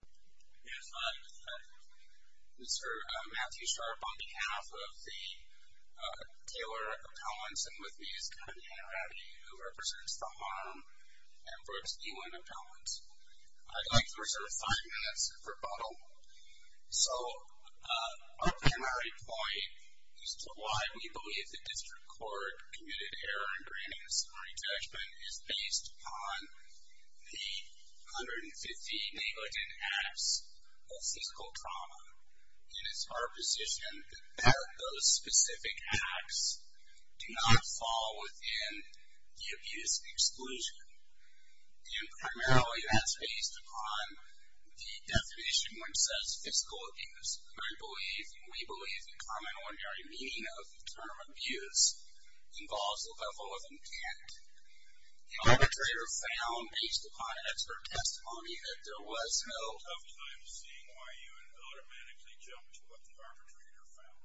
Yes, I'm Mr. Matthew Sharp on behalf of the Taylor Appellants and with me is Kevin Hanna-Rabbi who represents the Harm and Brooks Ewing Appellants. I'd like to reserve five minutes for rebuttal. So, our primary point as to why we believe the District Court committed error in granting a summary judgment is based upon the 150 negligent acts of physical trauma. And it's our position that those specific acts do not fall within the abuse exclusion. And primarily that's based upon the definition which says physical abuse. We believe the common ordinary meaning of the term abuse involves a level of intent. The arbitrator found based upon expert testimony that there was no... ...tough time seeing why you would automatically jump to what the arbitrator found.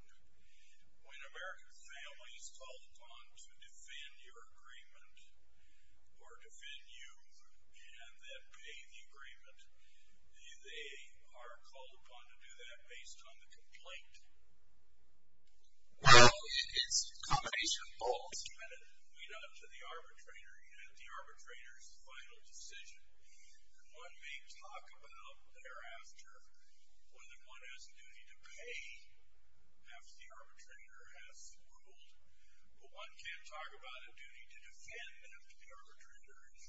When American families called upon to defend your agreement or defend you and then pay the agreement, they are called upon to do that based on the complaint. Well, it's a combination of both. ...and a lead-up to the arbitrator and the arbitrator's final decision. And one may talk about thereafter whether one has a duty to pay after the arbitrator has ruled, but one can't talk about a duty to defend after the arbitrator has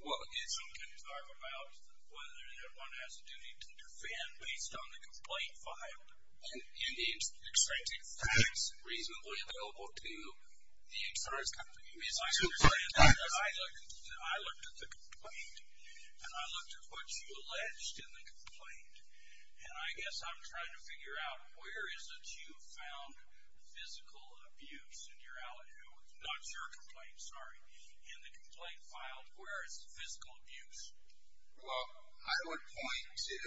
ruled. Well, it's... One can talk about whether one has a duty to defend based on the complaint filed. And it's expected facts reasonably available to the insurance company. I understand that. I looked at the complaint, and I looked at what you alleged in the complaint, and I guess I'm trying to figure out where is it you found physical abuse in your... ...not your complaint, sorry, in the complaint filed where it's physical abuse. Well, I would point to...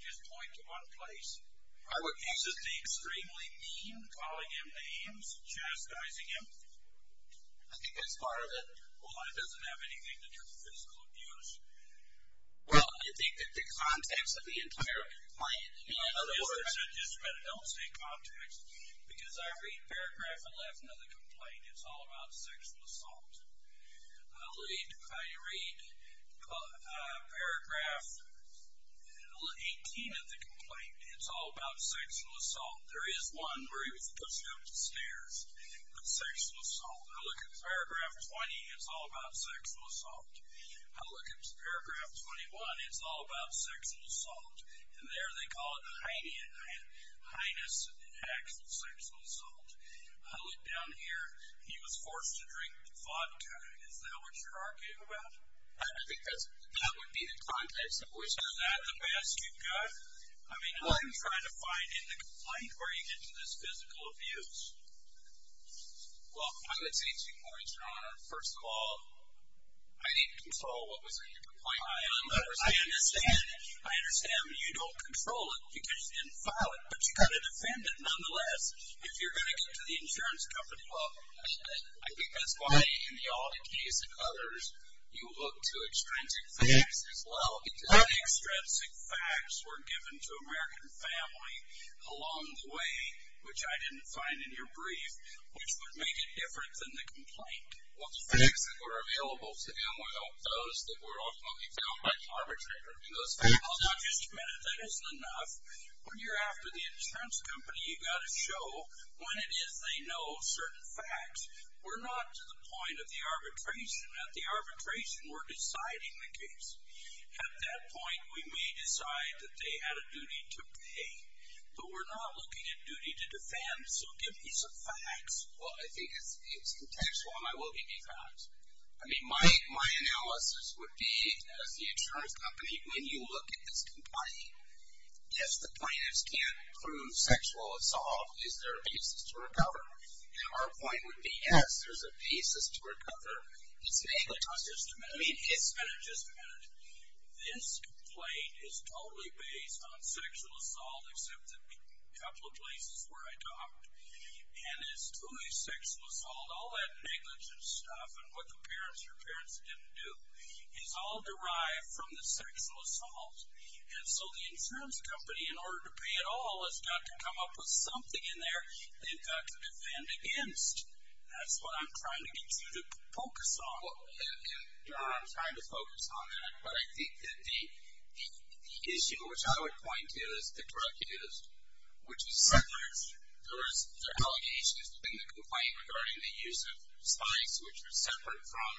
Just point to one place. I would point to... Is it the extremely mean calling him names, chastising him? I think that's part of it. Well, it doesn't have anything to do with physical abuse. Well, I think that the context of the entire complaint... ...because I read paragraph 11 of the complaint. It's all about sexual assault. I read paragraph 18 of the complaint. It's all about sexual assault. There is one where he was pushed up the stairs with sexual assault. I look at paragraph 20. It's all about sexual assault. I look at paragraph 21. It's all about sexual assault. And there they call it heinous acts of sexual assault. I look down here. He was forced to drink vodka. Is that what you're arguing about? I think that would be the context. Is that the best you've got? I mean, I'm trying to find in the complaint where you get to this physical abuse. Well, I would say two points, Your Honor. First of all, I didn't control what was in your complaint. I understand you don't control it because you didn't file it, but you got to defend it nonetheless. If you're going to get to the insurance company, well, I think that's why in the Alda case and others you look to extrinsic facts as well. The extrinsic facts were given to American family along the way, which I didn't find in your brief, which would make it different than the complaint. Well, the facts that were available to them were those that were ultimately found by the arbitrator. I'll just admit it. That isn't enough. When you're after the insurance company, you've got to show when it is they know certain facts. We're not to the point of the arbitration. At the arbitration, we're deciding the case. At that point, we may decide that they had a duty to pay. But we're not looking at duty to defend, so give me some facts. Well, I think it's contextual, and I will give you facts. I mean, my analysis would be, as the insurance company, when you look at this complaint, if the plaintiffs can't prove sexual assault, is there a basis to recover? Our point would be, yes, there's a basis to recover. It's negligence. Just a minute. I mean, it's been just a minute. This complaint is totally based on sexual assault, except a couple of places where I talked. And it's totally sexual assault, all that negligence stuff and what the parents or parents didn't do is all derived from the sexual assault. And so the insurance company, in order to pay it all, has got to come up with something in there they've got to defend against. That's what I'm trying to get you to focus on. Well, I'm trying to focus on that, but I think that the issue, which I would point to, is the drug use, which is separate. There was allegations in the complaint regarding the use of spice, which was separate from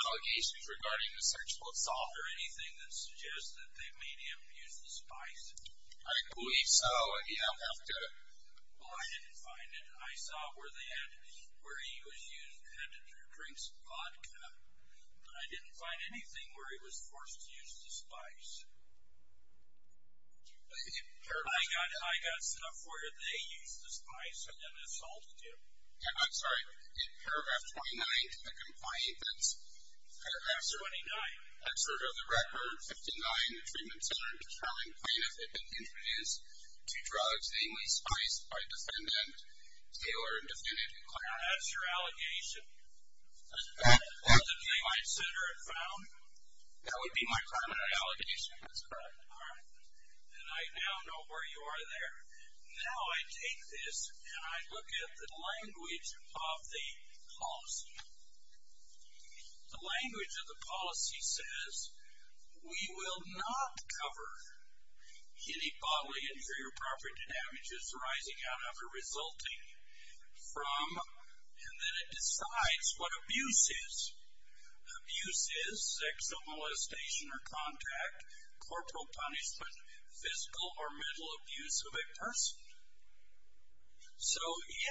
allegations regarding the sexual assault or anything that suggests that they made him use the spice. I agree. So, you don't have to. Well, I didn't find it. I saw where he had to drink some vodka, but I didn't find anything where he was forced to use the spice. I got stuff where they used the spice and then assaulted him. I'm sorry. In paragraph 29 of the complaint, that's paragraph 29. That's sort of the record, 59, the Treatment Center and Determined Plaintiff had been introduced to drugs namely spice by defendant Taylor and defendant Clark. Now, that's your allegation. That's the claim I'd center and found. That would be my primary allegation. That's correct. All right. And I now know where you are there. Now I take this and I look at the language of the policy. The language of the policy says, we will not cover any bodily injury or property damages rising out or resulting from, and then it decides what abuse is. Abuse is sexual molestation or contact, corporal punishment, physical or mental abuse of a person. So,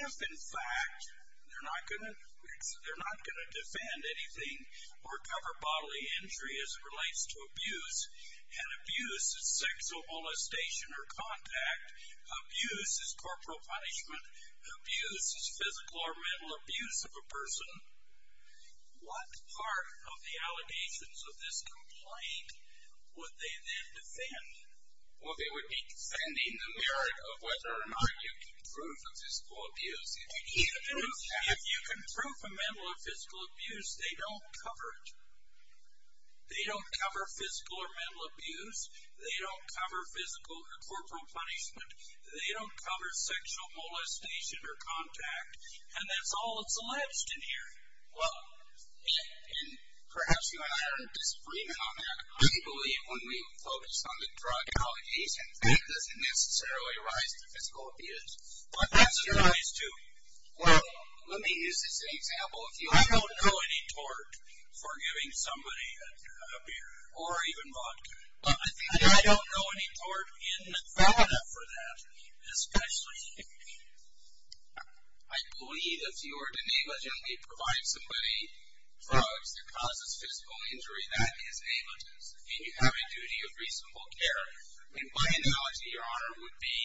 if in fact they're not going to defend anything or cover bodily injury as it relates to abuse, and abuse is sexual molestation or contact, abuse is corporal punishment, abuse is physical or mental abuse of a person, what part of the allegations of this complaint would they then defend? Well, they would be defending the merit of whether or not you can prove a physical abuse. If you can prove a mental or physical abuse, they don't cover it. They don't cover physical or mental abuse. They don't cover physical or corporal punishment. They don't cover sexual molestation or contact. And that's all that's alleged in here. Well, and perhaps you and I aren't disagreeing on that. I believe when we focus on the drug allegations, it doesn't necessarily rise to physical abuse. But that's what it is too. Well, let me use this as an example. If you don't know any tort for giving somebody a beer or even vodka, I don't know any tort in Nevada for that, especially. I believe if you were to negligently provide somebody drugs that causes physical injury, that is negligence, and you have a duty of reasonable care. My analogy, Your Honor, would be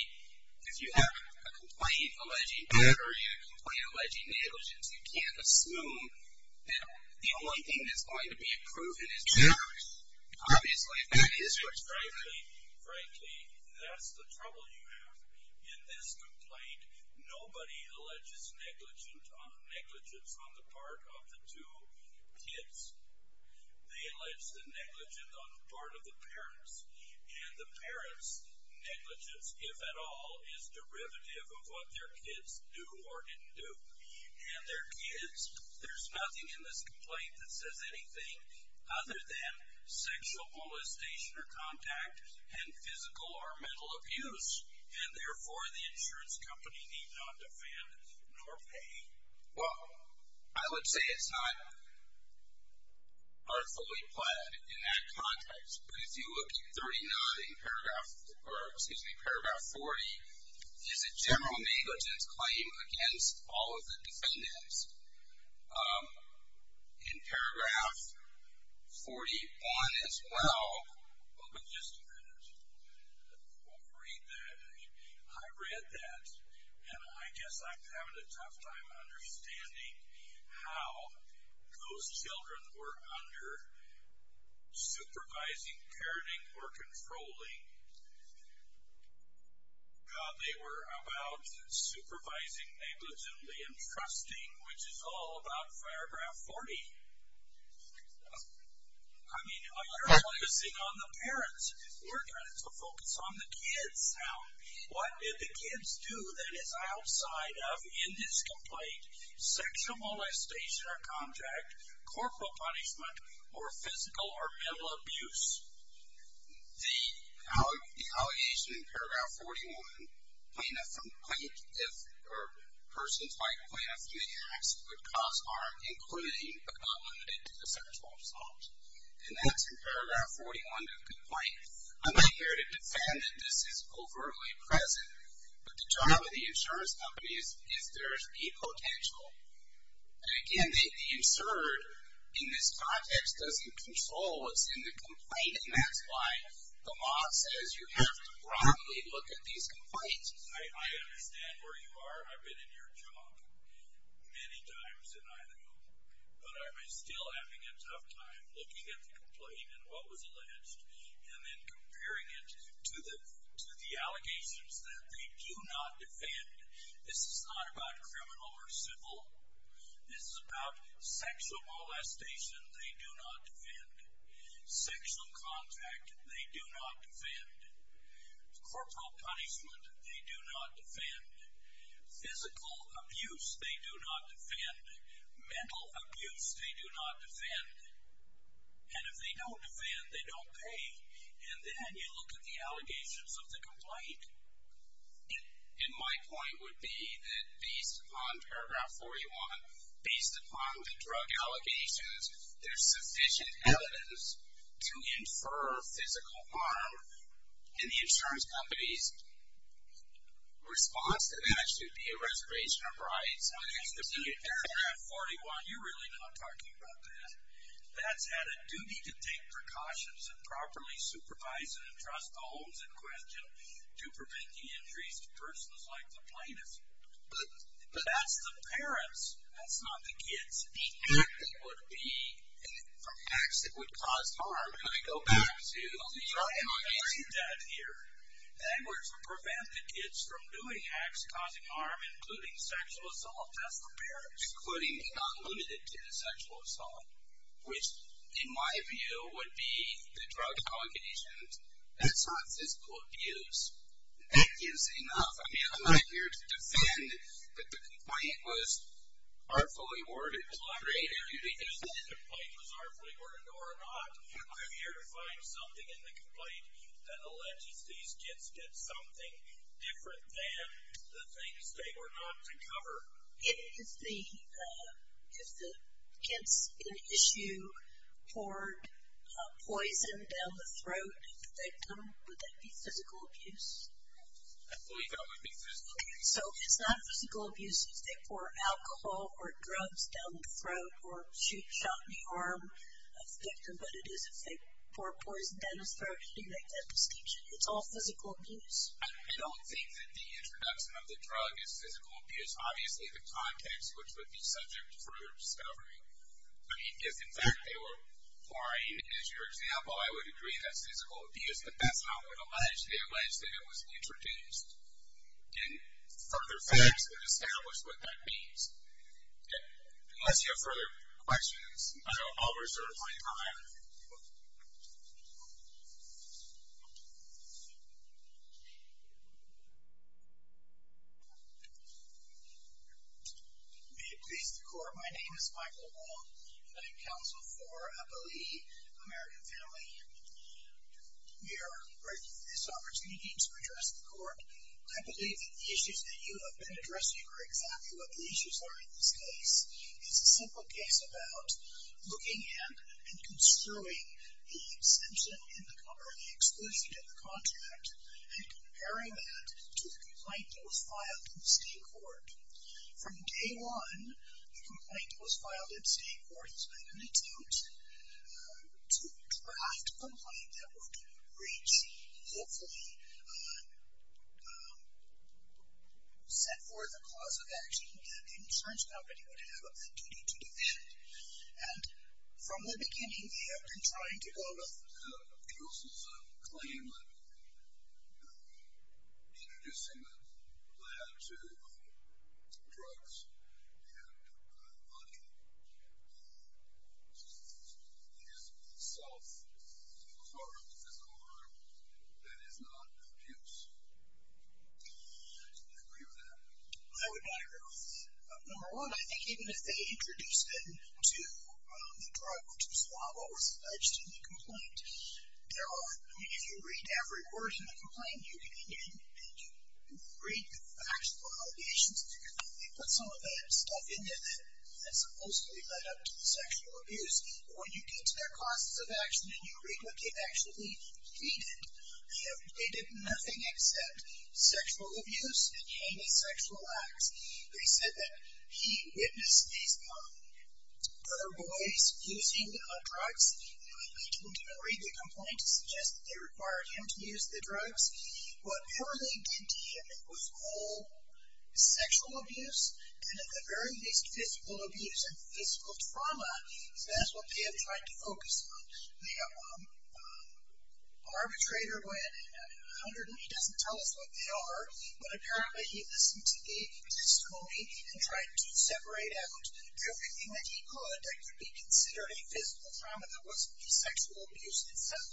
if you have a complaint alleging murder and a complaint alleging negligence, you can't assume that the only thing that's going to be proven is truth. Obviously, that is what's going to happen. Frankly, that's the trouble you have in this complaint. Nobody alleges negligence on the part of the two kids. They allege the negligence on the part of the parents. And the parents' negligence, if at all, is derivative of what their kids do or didn't do. And their kids, there's nothing in this complaint that says anything other than sexual molestation or contact and physical or mental abuse. And, therefore, the insurance company need not defend nor pay. Well, I would say it's not artfully pled in that context. But if you look at 39 in Paragraph 40, is a general negligence claim against all of the defendants. In Paragraph 41 as well. Well, just a minute. We'll read that. I read that, and I guess I'm having a tough time understanding how those children were under supervising, parenting, or controlling. God, they were about supervising negligently and trusting, which is all about Paragraph 40. I mean, you're focusing on the parents. We're trying to focus on the kids now. What did the kids do that is outside of, in this complaint, sexual molestation or contact, corporal punishment, or physical or mental abuse? The allegation in Paragraph 41, plaintiff or persons like plaintiff may act with cause harm including but not limited to the sexual assault. And that's in Paragraph 41 of the complaint. I'm not here to defend that this is overtly present, but the job of the insurance company is there's a potential. And, again, the absurd in this context doesn't control what's in the complaint, and that's why the law says you have to broadly look at these complaints. I understand where you are. I've been in your job many times, and I know. But I'm still having a tough time looking at the complaint and what was alleged and then comparing it to the allegations that they do not defend. This is not about criminal or civil. This is about sexual molestation they do not defend. Sexual contact they do not defend. Corporal punishment they do not defend. Physical abuse they do not defend. Mental abuse they do not defend. And if they don't defend, they don't pay. And then you look at the allegations of the complaint. And my point would be that based upon Paragraph 41, based upon the drug allegations, there's sufficient evidence to infer physical harm. And the insurance company's response to that should be a reservation of rights. When you look at Paragraph 41, you're really not talking about that. That's had a duty to take precautions and properly supervise and entrust the homes in question to prevent the injuries to persons like the plaintiffs. But that's the parents. That's not the kids. The acting would be from acts that would cause harm. And I go back to the drug allegations out here. That were to prevent the kids from doing acts causing harm, including sexual assault. That's the parents. Including and not limited to the sexual assault, which in my view would be the drug allegations. That's not physical abuse. That gives enough. I'm not here to defend that the complaint was artfully worded. I'm here to find something in the complaint that alleges these kids did something different than the things they were not to cover. If the kids in issue poured poison down the throat of the victim, would that be physical abuse? I believe that would be physical abuse. So it's not physical abuse if they pour alcohol or drugs down the throat or shootshot the arm of the victim, but it is if they pour poison down the throat and do that kind of escapism. It's all physical abuse. I don't think that the introduction of the drug is physical abuse. Obviously the context, which would be subject for further discovery. I mean, if in fact they were lying, as your example, I would agree that's physical abuse. But that's not what alleged. It's alleged that it was introduced in further facts and established what that means. Okay. Unless you have further questions, I'll reserve my time. May it please the Court. My name is Michael Wong. I'm counsel for a believing American family. We are grateful for this opportunity to address the Court. I believe that the issues that you have been addressing are exactly what the issues are in this case. It's a simple case about looking at and construing the exemption in the cover, the exclusion in the contract, and comparing that to the complaint that was filed in state court. From day one, the complaint that was filed in state court has been an attempt to draft a complaint that would reach, hopefully set forth a cause of action that the insurance company would have a duty to defend. And from the beginning, we have been trying to go to the process of claiming, introducing the plan to drugs and money. It is self part of the physical harm that is not abuse. Do you agree with that? I would not agree with that. Number one, I think even if they introduce it to the drug, to the swab, or the fudge, to the complaint, if you read every word in the complaint, you can read the factual allegations. They put some of that stuff in there that is supposed to be led up to sexual abuse. But when you get to their causes of action and you read what they actually stated, they did nothing except sexual abuse and hanging sexual acts. They said that he witnessed these other boys using drugs. They didn't read the complaint to suggest that they required him to use the drugs. Whatever they did to him, it was all sexual abuse, and at the very least, physical abuse and physical trauma. So that's what they have tried to focus on. The arbitrator went and hundred and he doesn't tell us what they are, but apparently he listened to the testimony and tried to separate out everything that he could that could be considered a physical trauma that wasn't the sexual abuse itself.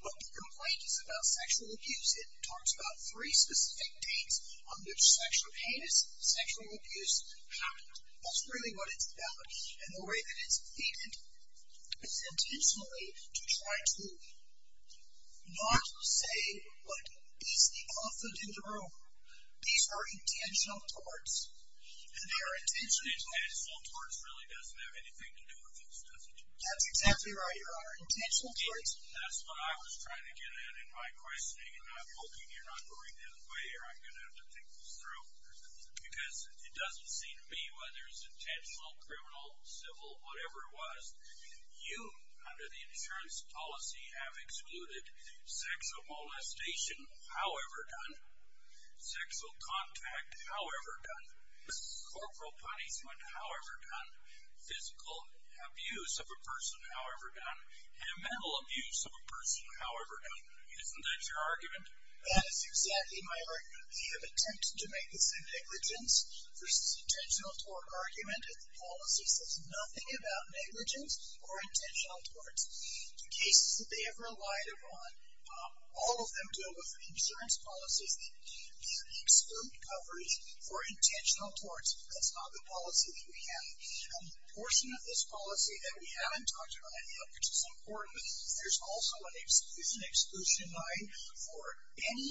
When the complaint is about sexual abuse, it talks about three specific dates on which sexual abuse happened. That's really what it's about. And the way that it's treated is intentionally to try to not say what is the cause of the room. These are intentional torts. And they are intentional. Intentional torts really doesn't have anything to do with this, does it? That's exactly right, your honor. Intentional torts. That's what I was trying to get at in my questioning, and I'm hoping you're not going that way or I'm going to have to think this through. Because it doesn't seem to me whether it's intentional, criminal, civil, whatever it was, you under the insurance policy have excluded sex or molestation. However done. Sexual contact, however done. Corporal punishment, however done. Physical abuse of a person, however done. And mental abuse of a person, however done. Isn't that your argument? That is exactly my argument. They have attempted to make this a negligence versus intentional tort argument. The policy says nothing about negligence or intentional torts. The cases that they have relied upon, all of them deal with the insurance policies that give the exclude coverage for intentional torts. That's not the policy that we have. And the portion of this policy that we haven't talked about yet, which is important, there's also an exclusion exclusion line for any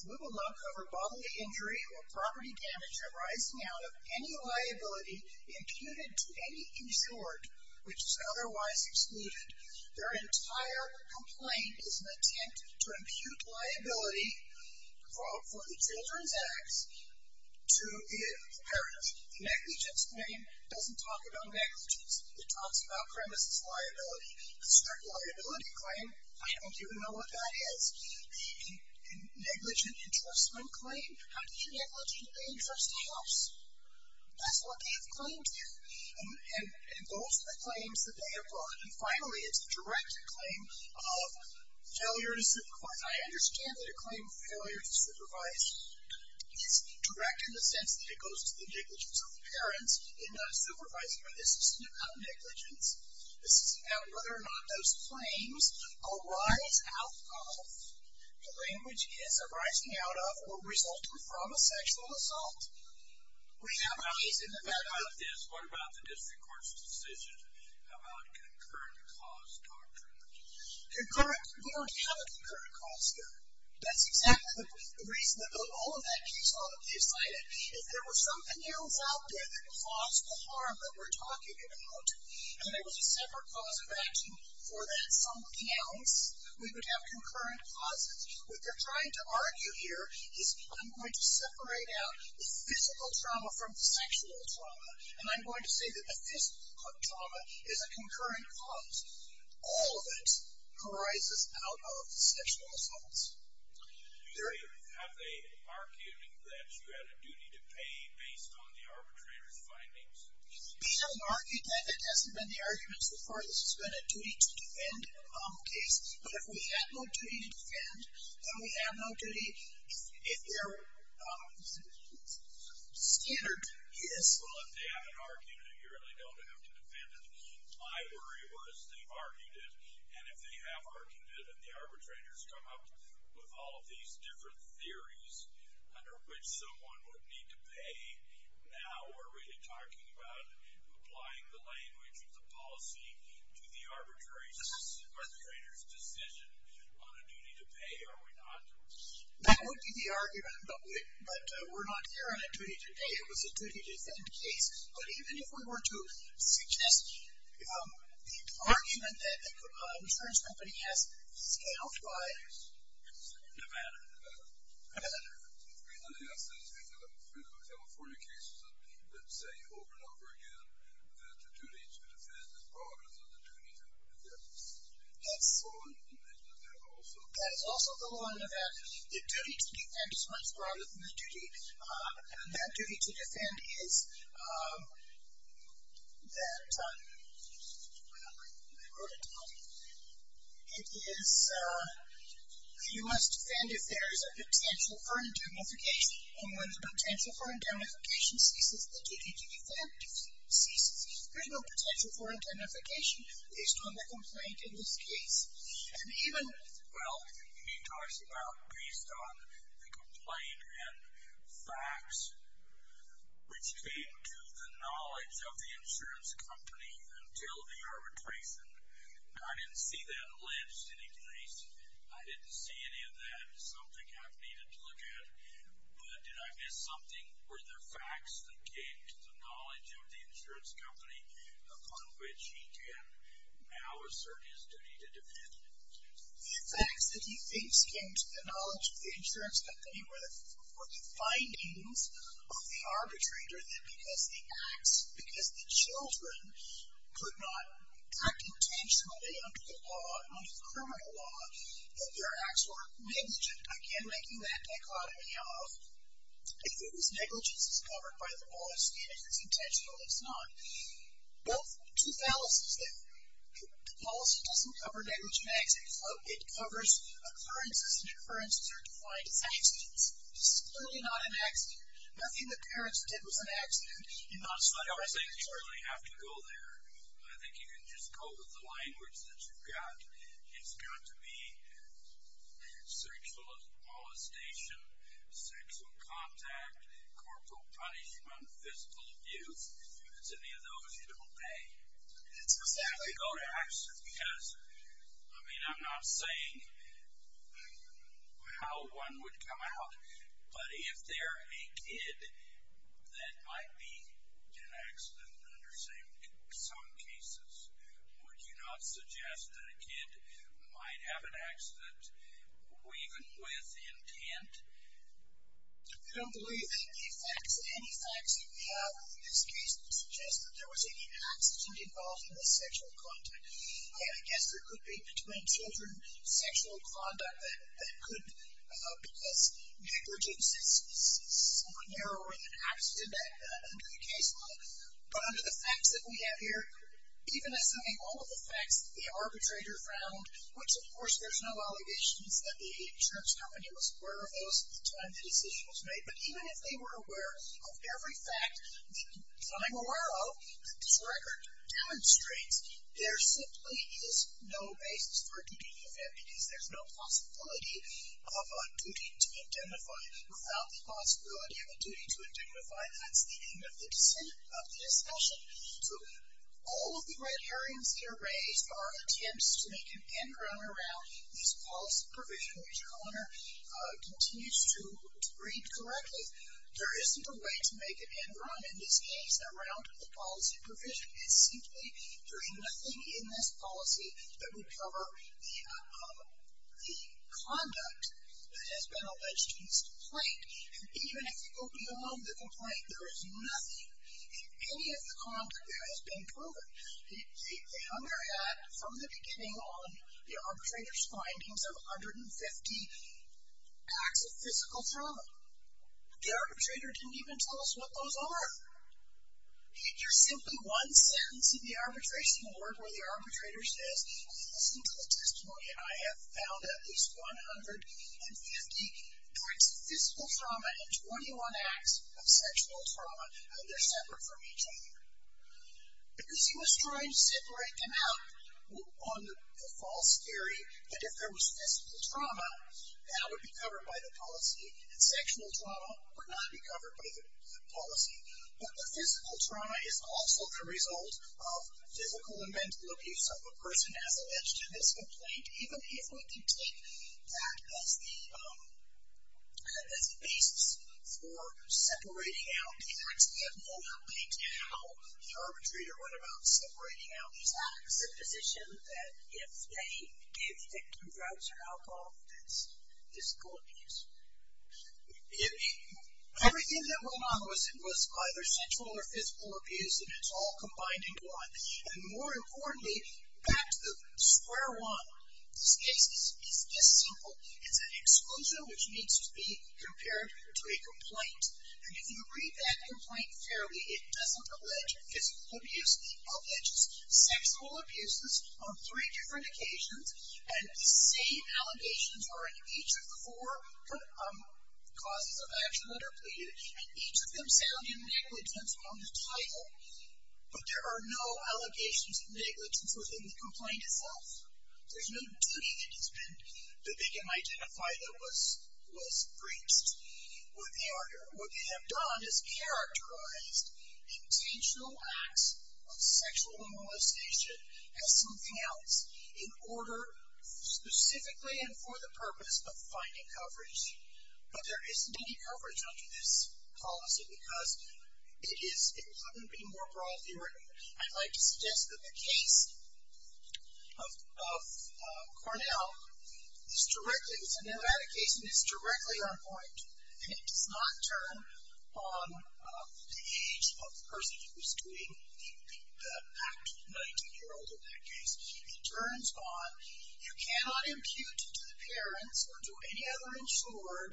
little knock over bodily injury or property damage arising out of any liability imputed to any insured which is otherwise excluded. Their entire complaint is an attempt to impute liability for the children's acts to the parents. The negligence claim doesn't talk about negligence. It talks about premises liability. The strict liability claim, I don't even know what that is. The negligent entrustment claim, how do you negligently entrust a house? That's what they have claimed to. And those are the claims that they have brought. And finally, it's a direct claim of failure to supervise. I understand that a claim of failure to supervise is direct in the sense that it goes to the negligence of the parents in supervising, but this isn't about negligence. This is about whether or not those claims arise out of, the language is arising out of or resulting from a sexual assault. We have a case in Nevada. What about this? What about the district court's decision about concurrent cause doctrine? We don't have a concurrent cause here. That's exactly the reason that all of that case is cited. If there was something else out there that caused the harm that we're talking about and there was a separate cause of action for that somebody else, we would have concurrent causes. What they're trying to argue here is I'm going to separate out the physical trauma from the sexual trauma, and I'm going to say that the physical trauma is a concurrent cause. All of it arises out of sexual assaults. Do you have an argument that you had a duty to pay based on the arbitrator's findings? We don't argue that. That hasn't been the argument so far. This has been a duty to defend case. But if we had no duty to defend, then we have no duty. It's standard, yes. Well, if they haven't argued it, you really don't have to defend it. My worry was they've argued it, and if they have argued it and the arbitrators come up with all of these different theories under which someone would need to pay, now we're really talking about applying the language of the policy to the arbitrator's decision on a duty to pay, are we not? That would be the argument, but we're not here on a duty to pay. It was a duty to defend case. But even if we were to suggest the argument that a insurance company has scalped by Nevada. The reason I say this is because of the California cases that say over and over again that the duty to defend is broader than the duty to pay. Yes. That is also the law in Nevada. The duty to defend is much broader than the duty. That duty to defend is that you must defend if there is a potential for indemnification. And when the potential for indemnification ceases, the duty to defend ceases. There is no potential for indemnification based on the complaint in this case. And even, well, he talks about based on the complaint and facts which came to the knowledge of the insurance company until the arbitration. Now, I didn't see that alleged in any case. I didn't see any of that as something I've needed to look at. But did I miss something? Were there facts that came to the knowledge of the insurance company upon which he can now assert his duty to defend? The facts that he thinks came to the knowledge of the insurance company were the findings of the arbitrator that because the acts, because the children could not act intentionally under the law, under the criminal law, that their acts were negligent. Again, making that dichotomy of if it was negligent, it's covered by the law. If it's intentional, it's not. Well, two fallacies there. The policy doesn't cover negligent acts. It covers occurrences, and occurrences are defined as accidents. This is clearly not an accident. Nothing that parents did was an accident. You've not studied that. I don't think you really have to go there. I think you can just go with the language that you've got. It's got to be sexual molestation, sexual contact, corporal punishment, physical abuse. It's any of those you don't pay. It's exactly that. You don't have to go to accident because, I mean, I'm not saying how one would come out, but if they're a kid that might be in an accident under some cases, would you not suggest that a kid might have an accident even with intent? I don't believe that any facts that we have in this case would suggest that there was any accident involved in this sexual contact. I guess there could be, between children, sexual conduct that could because negligence is somewhat narrower than an accident under the case law. But under the facts that we have here, even assuming all of the facts that the arbitrator found, which, of course, there's no allegations that the insurance company was aware of those at the time the decision was made. But even if they were aware of every fact that I'm aware of, that this record demonstrates, there simply is no basis for a duty of evidence. There's no possibility of a duty to identify. Without the possibility of a duty to identify, that's the end of the discussion. So all of the red herrings here raised are attempts to make an end run around these policy provisions, which Connor continues to read correctly. There isn't a way to make an end run, in this case, around the policy provision. There's simply nothing in this policy that would cover the conduct that has been alleged in this complaint. And even if you go beyond the complaint, there is nothing in any of the conduct that has been proven. They under-add, from the beginning, all of the arbitrator's findings of 150 acts of physical trauma. The arbitrator didn't even tell us what those are. You're simply one sentence in the arbitration board where the arbitrator says, listen to the testimony. I have found at least 150 acts of physical trauma and 21 acts of sexual trauma, and they're separate from each other. Because he was trying to separate them out on the false theory that if there was physical trauma, that would be covered by the policy, and sexual trauma would not be covered by the policy. But the physical trauma is also the result of physical and mental abuse of a person as alleged in this complaint, even if we could take that as the basis for separating out the reports, we have no complaint how the arbitrator went about separating out these acts. It's a position that if they did take drugs or alcohol, that's physical abuse. Everything that went on was either sexual or physical abuse, and it's all combined into one. And more importantly, back to the square one, this case is this simple. It's an exclusion which needs to be compared to a complaint. And if you read that complaint fairly, it doesn't allege physical abuse. It alleges sexual abuses on three different occasions, and the same allegations are in each of the four causes of action that are pleaded, and each of them sound in negligence on the title. But there are no allegations of negligence within the complaint itself. There's no duty that they can identify that was breached. What they have done is characterized intentional acts of sexual immolation as something else in order, specifically and for the purpose of finding coverage. But there isn't any coverage under this policy because it is, it wouldn't be more broad theory. I'd like to suggest that the case of Cornell is directly, it's an eradication, it's directly on point, and it does not turn on the age of the person who is doing the act, 19-year-old in that case. It turns on, you cannot impute to the parents or to any other insured,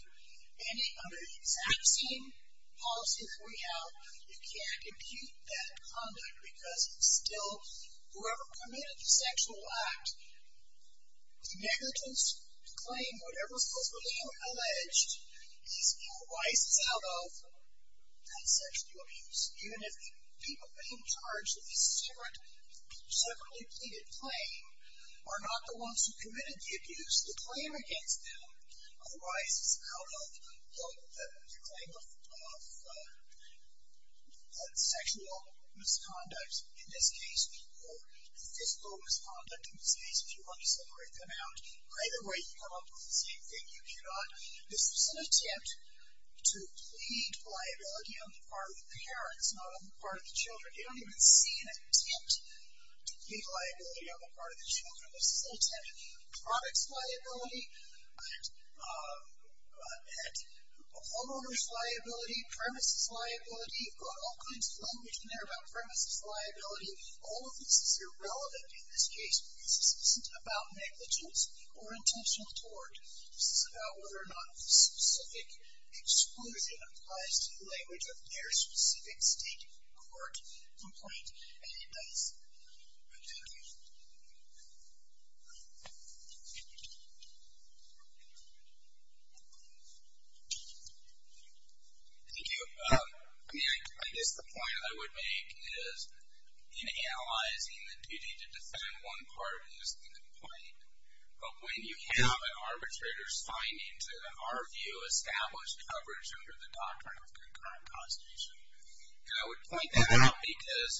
under the exact same policy as we have, you can't impute that conduct because it's still, whoever committed the sexual act, the negligence to claim whatever is supposedly alleged, these people are licensed out of non-sexual abuse. Even if the people being charged with the separately pleaded claim are not the ones who committed the abuse, the claim against them arises out of the claim of sexual misconduct. In this case, people, physical misconduct in this case, if you want to separate them out, either way, you come up with the same thing, you cannot. This is an attempt to plead liability on the part of the parents, not on the part of the children. You don't even see an attempt to plead liability on the part of the children. This is an attempt at products liability, at homeowner's liability, premises liability. You've got all kinds of language in there about premises liability. All of this is irrelevant in this case because this isn't about negligence or intentional tort. This is about whether or not the specific exclusion applies to the language of their specific state court complaint. And that is it. Thank you. Thank you. I guess the point I would make is in analyzing the duty to defend one party's complaint, but when you have an arbitrator's finding to, in our view, establish coverage under the doctrine of concurrent prosecution. And I would point that out because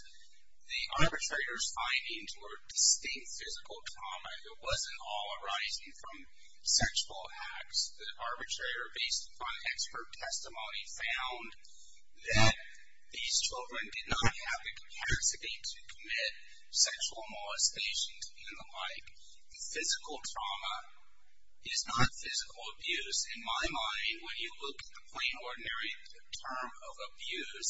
the arbitrator's findings were distinct physical trauma. It wasn't all arising from sexual acts. The arbitrator, based upon expert testimony, found that these children did not have the capacity to commit sexual molestation and the like. Physical trauma is not physical abuse. In my mind, when you look at the plain ordinary term of abuse,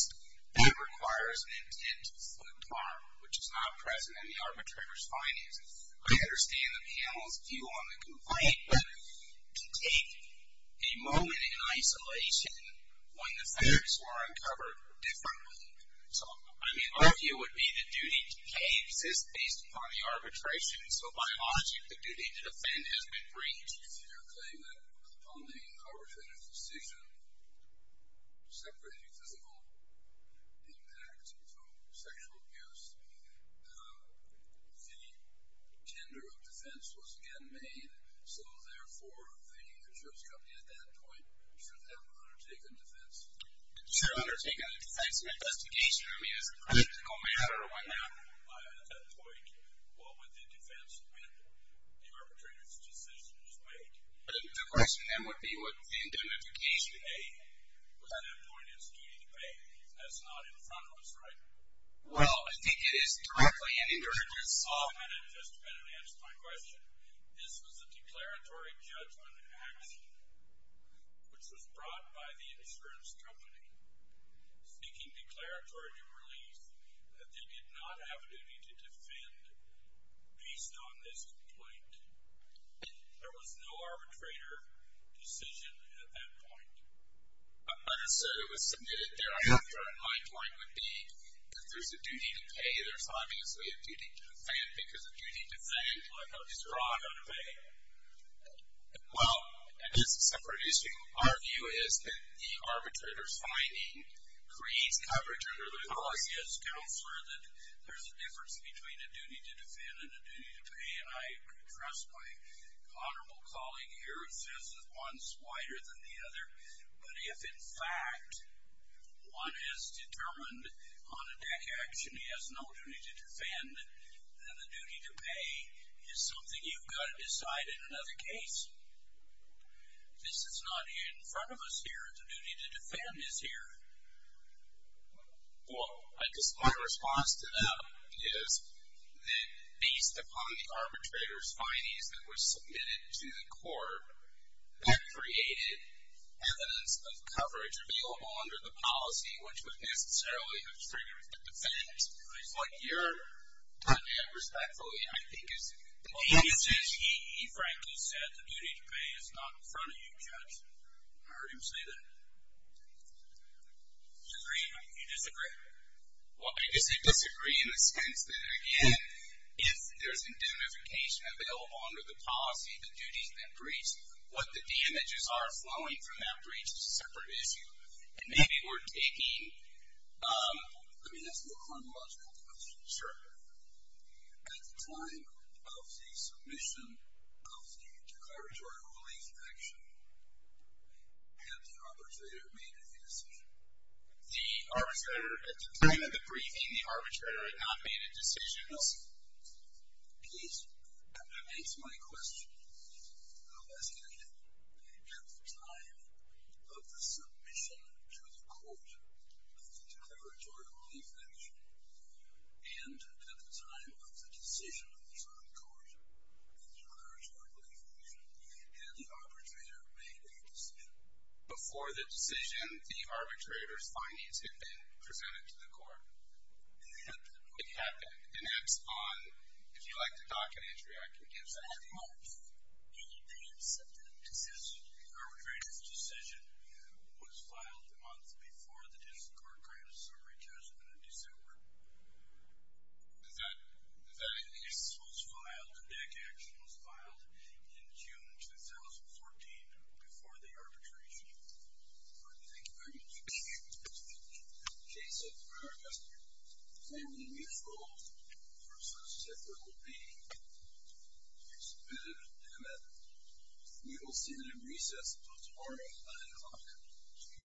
that requires an intent to foot harm, which is not present in the arbitrator's findings. I understand the panel's view on the complaint, but to take a moment in isolation when the facts were uncovered differently. So, I mean, our view would be the duty to cave exists based upon the arbitration. So, by logic, the duty to defend has been breached. The defendants here claim that upon the arbitrator's decision separating physical impact from sexual abuse, the tender of defense was again made. So, therefore, the insurance company at that point should have undertaken defense. Should have undertaken a defense investigation. I mean, is it a political matter or what not? At that point, what would the defense win? The arbitrator's decision was made. The question then would be would the indemnification pay? At that point, it's duty to pay. That's not in front of us, right? Well, I think it is directly and indirectly. Oh, that had just been answered my question. This was a declaratory judgment action, which was brought by the insurance company. Speaking declaratory to release, that they did not have a duty to defend based on this complaint. There was no arbitrator decision at that point. So, it was submitted thereafter. And my point would be if there's a duty to pay, there's not necessarily a duty to defend. Because a duty to pay is drawn out of pay. Well, and this is a separate issue. Our view is that the arbitrator's finding creates coverage under the law. Yes, counselor, that there's a difference between a duty to defend and a duty to pay. And I trust my honorable colleague here who says that one's whiter than the other. But if, in fact, one has determined on a deck action he has no duty to defend, then the duty to pay is something you've got to decide in another case. This is not in front of us here. The duty to defend is here. Well, I guess my response to that is that based upon the arbitrator's findings that were submitted to the court, that created evidence of coverage available under the policy, which would necessarily have triggered the defense. What you're doing, respectfully, I think is... He frankly said the duty to pay is not in front of you, Judge. I heard him say that. Disagree? You disagree? Well, I disagree in the sense that, again, if there's indemnification available under the policy, the duties that breach, what the damages are flowing from that breach is a separate issue. And maybe we're taking... I mean, that's a more chronological question. Sure. At the time of the submission of the declaratory relief action, had the arbitrator made a decision? The arbitrator, at the time of the briefing, the arbitrator had not made a decision. No. Please, that beats my question. No, that's correct. At the time of the submission to the court of the declaratory relief action and at the time of the decision of the Supreme Court of the declaratory relief action, had the arbitrator made a decision? Before the decision, the arbitrator's findings had been presented to the court. It had been? It had been. And that's on... If you'd like to dock an entry, I can give that to you. At what point did the decision... The arbitrator's decision was filed a month before the District Court Crimes Summary Test in December. Is that... Yes, it was filed, the deck action was filed in June 2014 before the arbitration. Thank you very much. In the case of the Crimes, the family mutual versus separate will be submitted to the commander. We will see that in recess until tomorrow at 9 o'clock.